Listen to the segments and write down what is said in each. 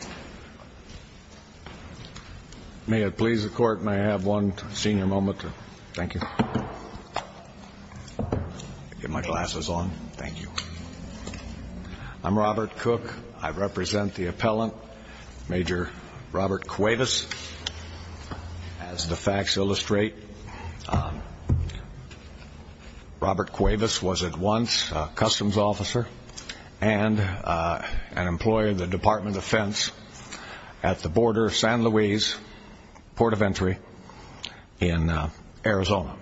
Robert Cuevas was at once a customs officer and an employee of the Department of Defense at the border of San Luis, Port of Entry, in Arizona.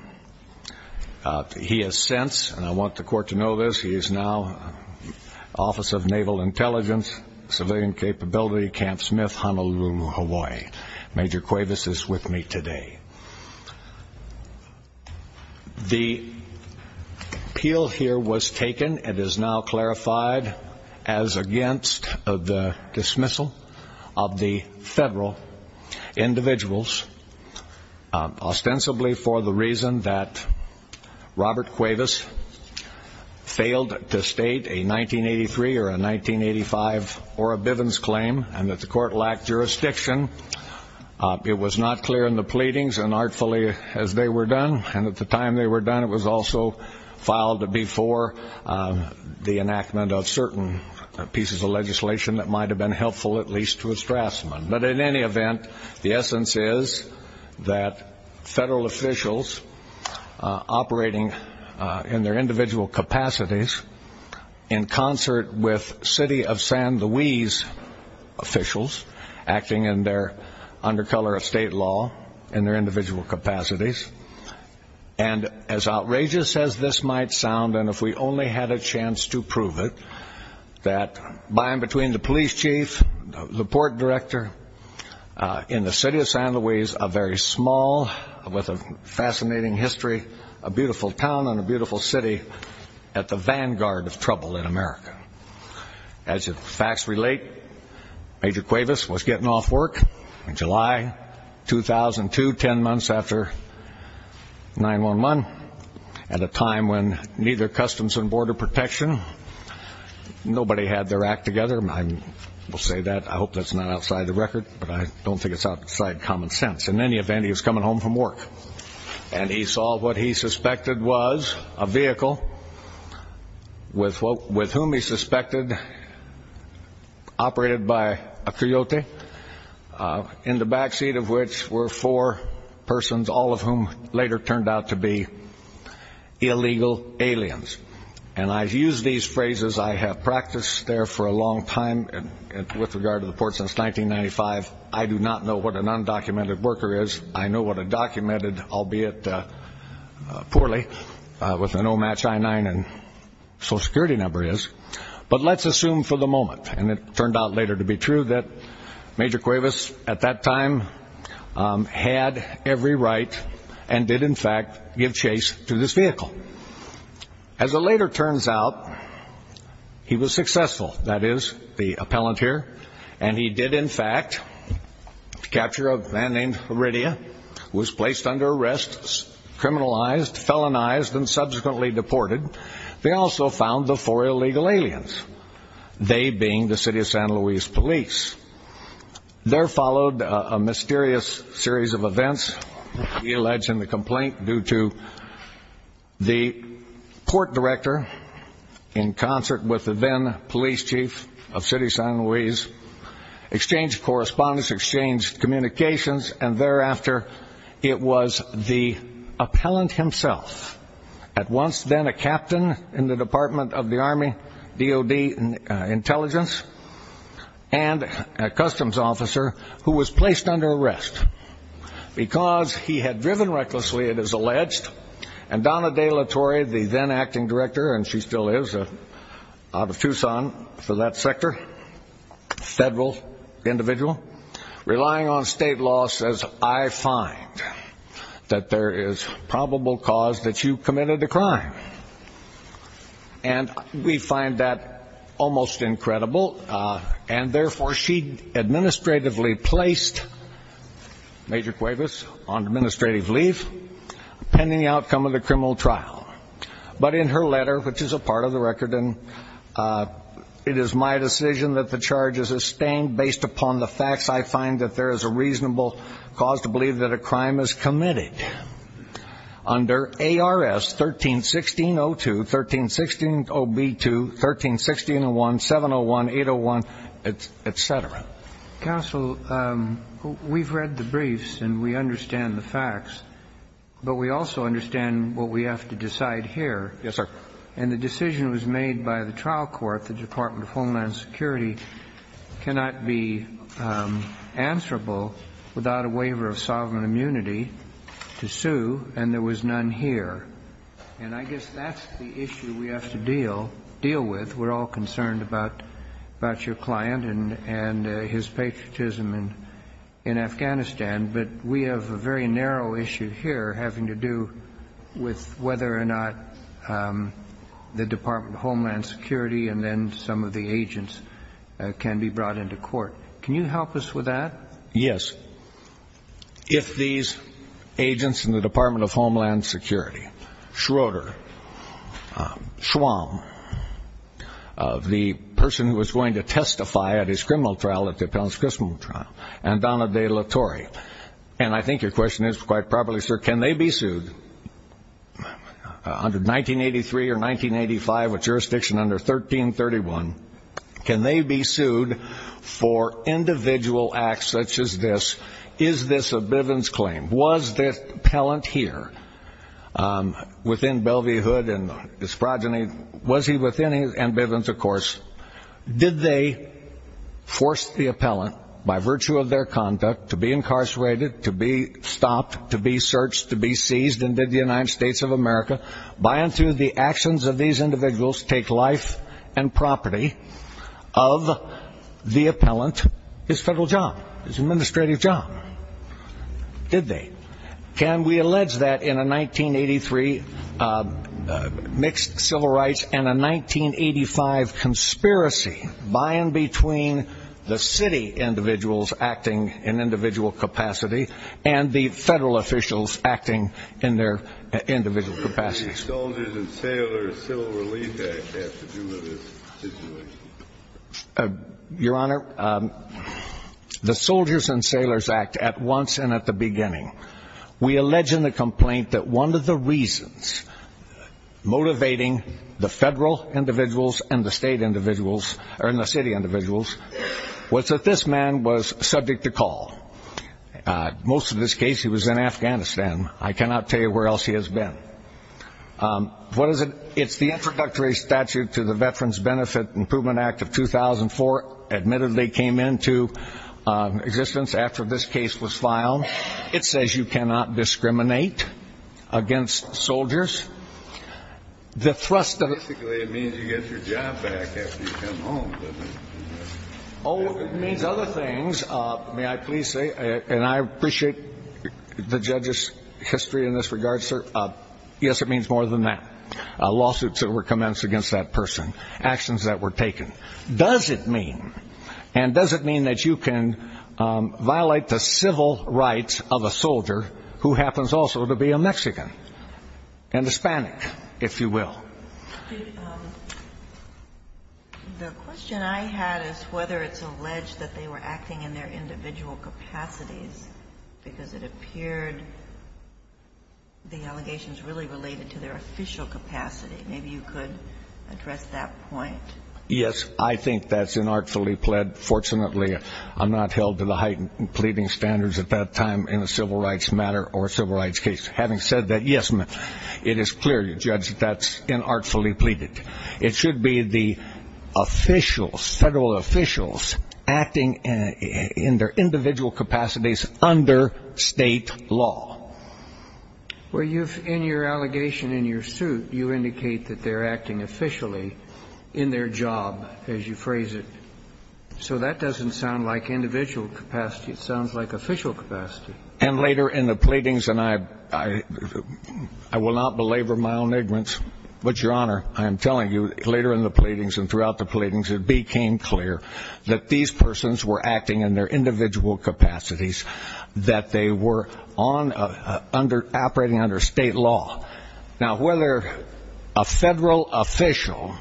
He has since, and I want the court to know this, he is now Office of Naval Intelligence, Civilian Capability, Camp Smith, Honolulu, Hawaii. Major Cuevas is with me today. The appeal here was taken. It is now clarified as against the dismissal of the federal individuals, ostensibly for the reason that Robert Cuevas failed to state a 1983 or a 1985 Ora Bivens claim and that the court lacked jurisdiction. It was not clear in the pleadings and artfully as they were done and at the time they were done it was also filed before the enactment of certain pieces of legislation that might have been helpful at least to a Strassman. But in any event, the essence is that federal officials operating in their individual capacities in concert with city of San Luis officials acting in their under color of state law in their individual capacities and as outrageous as this might sound and if we only had a chance to prove it that by and between the police chief, the port director, in the city of San Luis, a very small with a fascinating history, a beautiful town and a beautiful city at the vanguard of trouble in America. As the facts relate, Major Cuevas was getting off work in July 2002, ten months after 9-1-1 at a time when neither Customs and Border Protection, nobody had their act together, I will say that, I hope that's not outside the record, but I don't think it's outside common sense. In any event, he was coming home from work and he saw what he suspected was a vehicle with whom he suspected operated by a Coyote in the backseat of which were four persons, all of whom later turned out to be illegal aliens and I've used these phrases, I have practiced there for a long time with regard to the port since 1995. I do not know what an undocumented worker is, I know what a documented, albeit poorly, with an O match I-9 and social security number is, but let's assume for the moment and it turned out later to be true that Major Cuevas at that time had every right and did in fact give chase to this vehicle. As it later turns out, he was successful, that is, the appellant here, and he did in fact capture a man named Heredia who was placed under arrest, criminalized, felonized, and subsequently deported. They also found the four illegal aliens, they being the City of San Luis Police. There followed a mysterious series of events, he alleged in the complaint, due to the port director in concert with the then police chief of City of San Luis exchanged correspondence, exchanged communications, and thereafter it was the appellant himself, at once then a captain in the Department of the Army, DOD intelligence, and a customs officer who was placed under arrest because he had driven recklessly, it is alleged, and Donna De La Torre, the then acting director, and she still is, out of Tucson for that sector, federal individual, relying on state law says, I find that there is probable cause that you committed a crime. And we find that almost incredible, and therefore she administratively placed Major Cuevas on administrative leave pending the outcome of the criminal trial. But in her letter, which is a part of the record and it is my decision that the charge is sustained based upon the facts, I find that there is a reasonable cause to believe that a crime is committed. Under ARS 13-1602, 13-160B-2, 13-1601, 701, 801, etc. Counsel, we've read the briefs and we understand the facts, but we also understand what we have to decide here. Yes, sir. And the decision was made by the trial court, the Department of Homeland Security, cannot be answerable without a waiver of sovereign immunity to sue, and there was none here. And I guess that's the issue we have to deal with. We're all concerned about your client and his patriotism in Afghanistan, but we have a very narrow issue here having to do with whether or not the Department of Homeland Security and then some of the agents can be brought into court. Can you help us with that? Yes. If these agents in the Department of Homeland Security, Schroeder, Schwamm, the person who was going to testify at his criminal trial, at the Appellant's Criminal Trial, and Donna De La Torre, and I think your question is quite properly, sir, can they be sued under 1983 or 1985 with jurisdiction under 1331, can they be sued for individual acts such as this? Is this a Bivens claim? Was the appellant here within Bellevue Hood and his progeny, was he within, and Bivens, of course, did they force the appellant by virtue of their conduct to be incarcerated, to be stopped, to be searched, to be seized, and did the United States of America, by and through the actions of these individuals, take life and property of the appellant, his federal job, his administrative job? Did they? Can we allege that in a 1983 mixed civil rights and a 1985 conspiracy by and between the city individuals acting in individual capacity and the federal officials acting in their individual capacity? The Soldiers and Sailors Civil Relief Act has to do with this situation. Your Honor, the Soldiers and Sailors Act, at once and at the beginning, we allege in the complaint that one of the reasons motivating the federal individuals and the state individuals, or in the city individuals, was that this man was subject to call. Most of this case, he was in Afghanistan. I cannot tell you where else he has been. What is it? It's the introductory statute to the Veterans Benefit Improvement Act of 2004, admittedly came into existence after this case was filed. It says you cannot discriminate against soldiers. The thrust of it... Basically, it means you get your job back after you come home. Oh, it means other things. May I please say, and I appreciate the judge's history in this regard, sir. Yes, it means more than that. Lawsuits that were commenced against that person. Actions that were taken. Does it mean, and does it mean that you can violate the civil rights of a soldier who happens also to be a Mexican? And Hispanic, if you will. The question I had is whether it's alleged that they were acting in their individual capacities because it appeared the allegations really related to their official capacity. Maybe you could address that point. Yes, I think that's inartfully plead. Fortunately, I'm not held to the heightened pleading standards at that time in a civil rights matter or a civil rights case. Having said that, yes, ma'am. It is clear, your judge, that that's inartfully pleaded. It should be the officials, federal officials, acting in their individual capacities under state law. Well, in your allegation in your suit, you indicate that they're acting officially in their job, as you phrase it. So that doesn't sound like individual capacity. It sounds like official capacity. And later in the pleadings, and I will not belabor my own ignorance, but, your honor, I am telling you, later in the pleadings and throughout the pleadings, it became clear that these persons were acting in their individual capacities, that they were operating under state law. Now, whether a federal official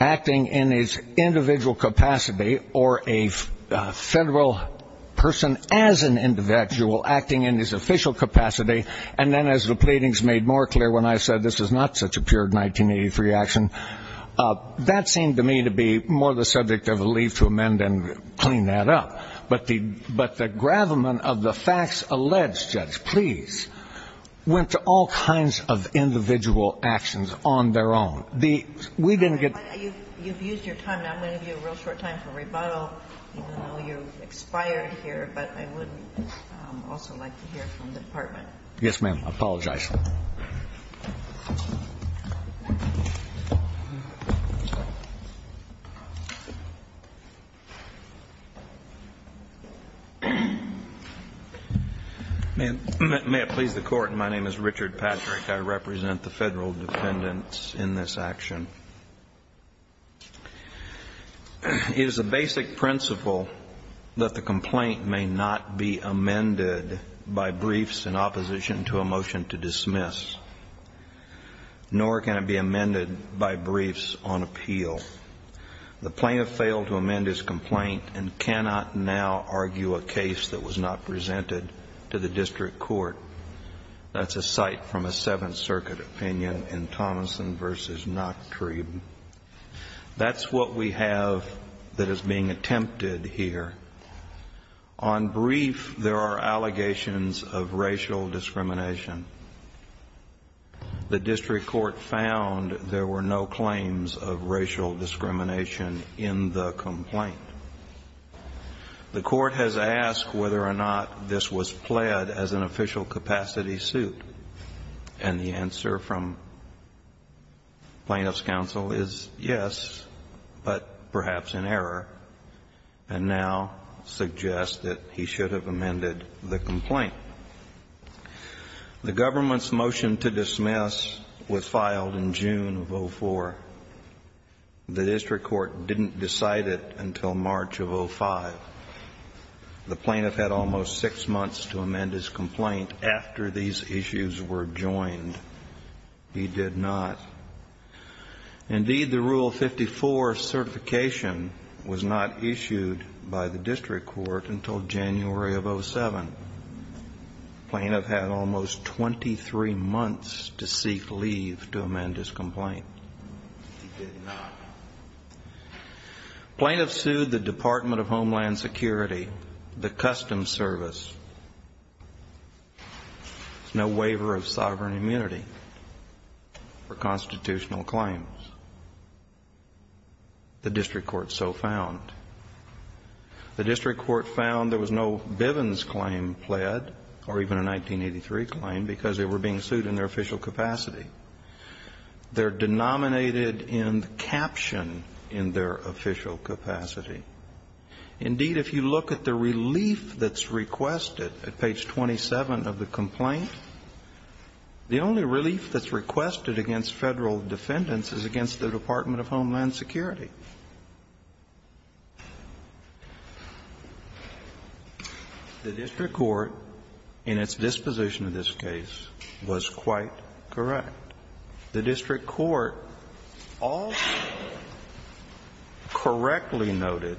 acting in his individual capacity or a federal person as an individual acting in his official capacity, and then as the pleadings made more clear when I said this is not such a pure 1983 action, that seemed to me to be more the subject of a leave to amend and clean that up. But the gravamen of the facts alleged, judge, please, went to all kinds of individual actions on their own. We didn't get... You've used your time. Now I'm going to give you a real short time for rebuttal, even though you've expired here. But I would also like to hear from the department. Yes, ma'am. I apologize. May it please the court. My name is Richard Patrick. I represent the federal defendants in this action. It is the basic principle that the complaint may not be amended by briefs in opposition to a motion to dismiss, nor can it be amended by briefs on appeal. The plaintiff failed to amend his complaint and cannot now argue a case that was not presented to the district court. That's a cite from a Seventh Circuit opinion in Thomason v. Not True. That's what we have that is being attempted here. On brief, there are allegations of racial discrimination. The district court found there were no claims of racial discrimination in the complaint. The court has asked whether or not this was pled as an official capacity suit. And the answer from plaintiff's counsel is yes, but perhaps in error and now suggests that he should have amended the complaint. The government's motion to dismiss was filed in June of 04. The district court didn't decide it until March of 05. The plaintiff had almost six months to amend his complaint after these issues were joined. He did not. Indeed, the Rule 54 certification was not issued by the district court until January of 07. The plaintiff had almost 23 months to seek leave to amend his complaint. He did not. Plaintiffs sued the Department of Homeland Security, the Customs Service. No waiver of sovereign immunity for constitutional claims. The district court so found. The district court found there was no Bivens claim pled or even a 1983 claim because they were being sued in their official capacity. They're denominated in the caption in their official capacity. Indeed, if you look at the relief that's requested at page 27 of the complaint, the only relief that's requested against Federal defendants is against the Department of Homeland Security. The district court, in its disposition of this case, was quite correct. The district court also correctly noted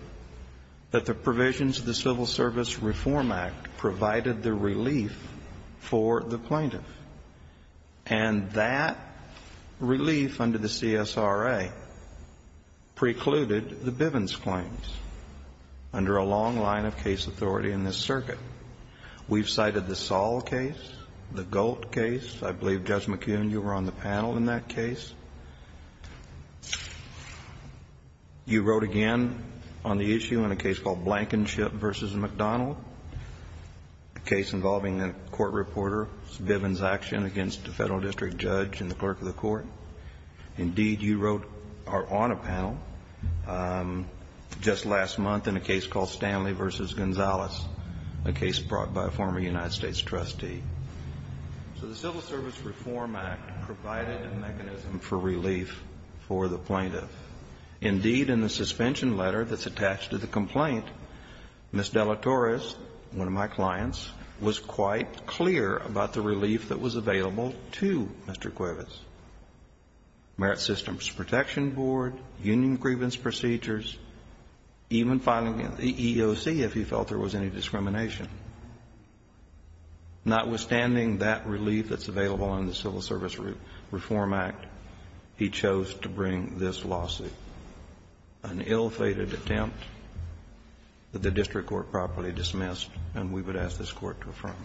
that the provisions of the Civil Service Reform Act provided the relief for the plaintiff. And that relief under the CSRA precluded the Bivens claims under a long line of case authority in this circuit. We've cited the Saul case, the Golt case. I believe, Judge McKeon, you were on the panel in that case. You wrote again on the issue in a case called Blankenship v. McDonald, a case involving a court reporter, Bivens action against a federal district judge and the clerk of the court. Indeed, you wrote on a panel just last month in a case called Stanley v. Gonzalez, a case brought by a former United States trustee. So the Civil Service Reform Act provided a mechanism for relief for the plaintiff. Indeed, in the suspension letter that's attached to the complaint, Ms. De La Torres, one of my clients, was quite clear about the relief that was available to Mr. Quivitz. Merit Systems Protection Board, union grievance procedures, even filing an EEOC if he felt there was any discrimination. Notwithstanding that relief that's available under the Civil Service Reform Act, he chose to bring this lawsuit, an ill-fated attempt that the district court properly dismissed, and we would ask this court to affirm.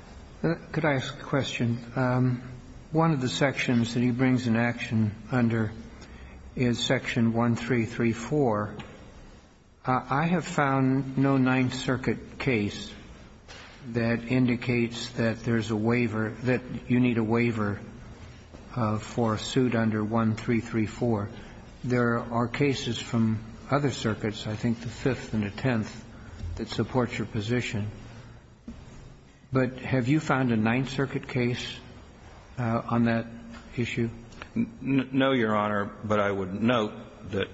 Could I ask a question? One of the sections that he brings in action under is Section 1334. I have found no Ninth Circuit case that indicates that there's a waiver, that you need a waiver for a suit under 1334. There are cases from other circuits, I think the Fifth and the Tenth, that support your position. But have you found a Ninth Circuit case on that issue? No, Your Honor, but I would note that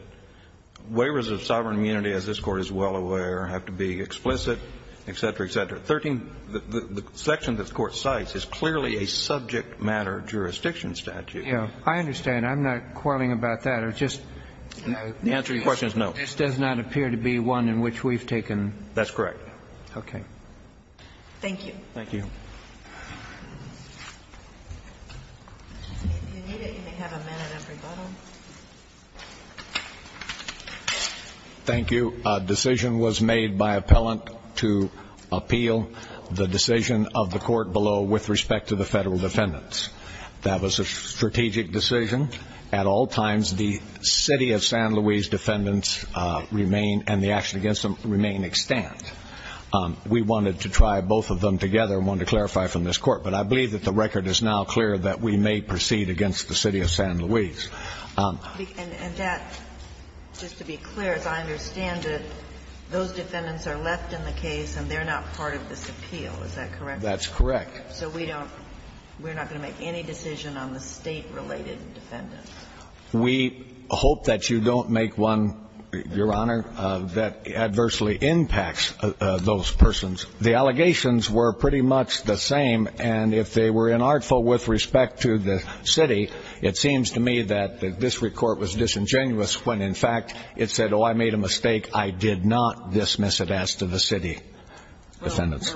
waivers of sovereign immunity, as this Court is well aware, have to be explicit, et cetera, et cetera. The section that the Court cites is clearly a subject matter jurisdiction statute. I understand. I'm not quarreling about that. The answer to your question is no. This does not appear to be one in which we've taken... That's correct. Thank you. Thank you. If you need it, you may have a minute of rebuttal. Thank you. A decision was made by appellant to appeal the decision of the court below with respect to the federal defendants. That was a strategic decision. At all times, the City of San Luis defendants remain, and the actions against them remain extant. We wanted to try both of them together and wanted to clarify from this Court. But I believe that the record is now clear that we may proceed against the City of San Luis. And that, just to be clear, as I understand it, those defendants are left in the case and they're not part of this appeal. Is that correct? That's correct. So we're not going to make any decision on the state-related defendants? We hope that you don't make one, Your Honor, that adversely impacts those persons. The allegations were pretty much the same, and if they were inartful with respect to the City, it seems to me that this report was disingenuous when, in fact, it said, oh, I made a mistake. I did not dismiss it as to the City defendants.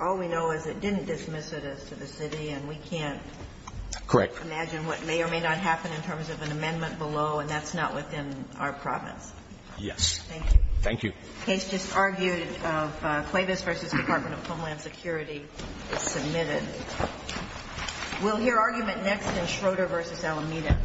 All we know is it didn't dismiss it as to the City, and we can't... And that's not within our province. Yes. Thank you. Thank you. The case just argued of Cuevas v. Department of Homeland Security is submitted. We'll hear argument next in Schroeder v. Alameda.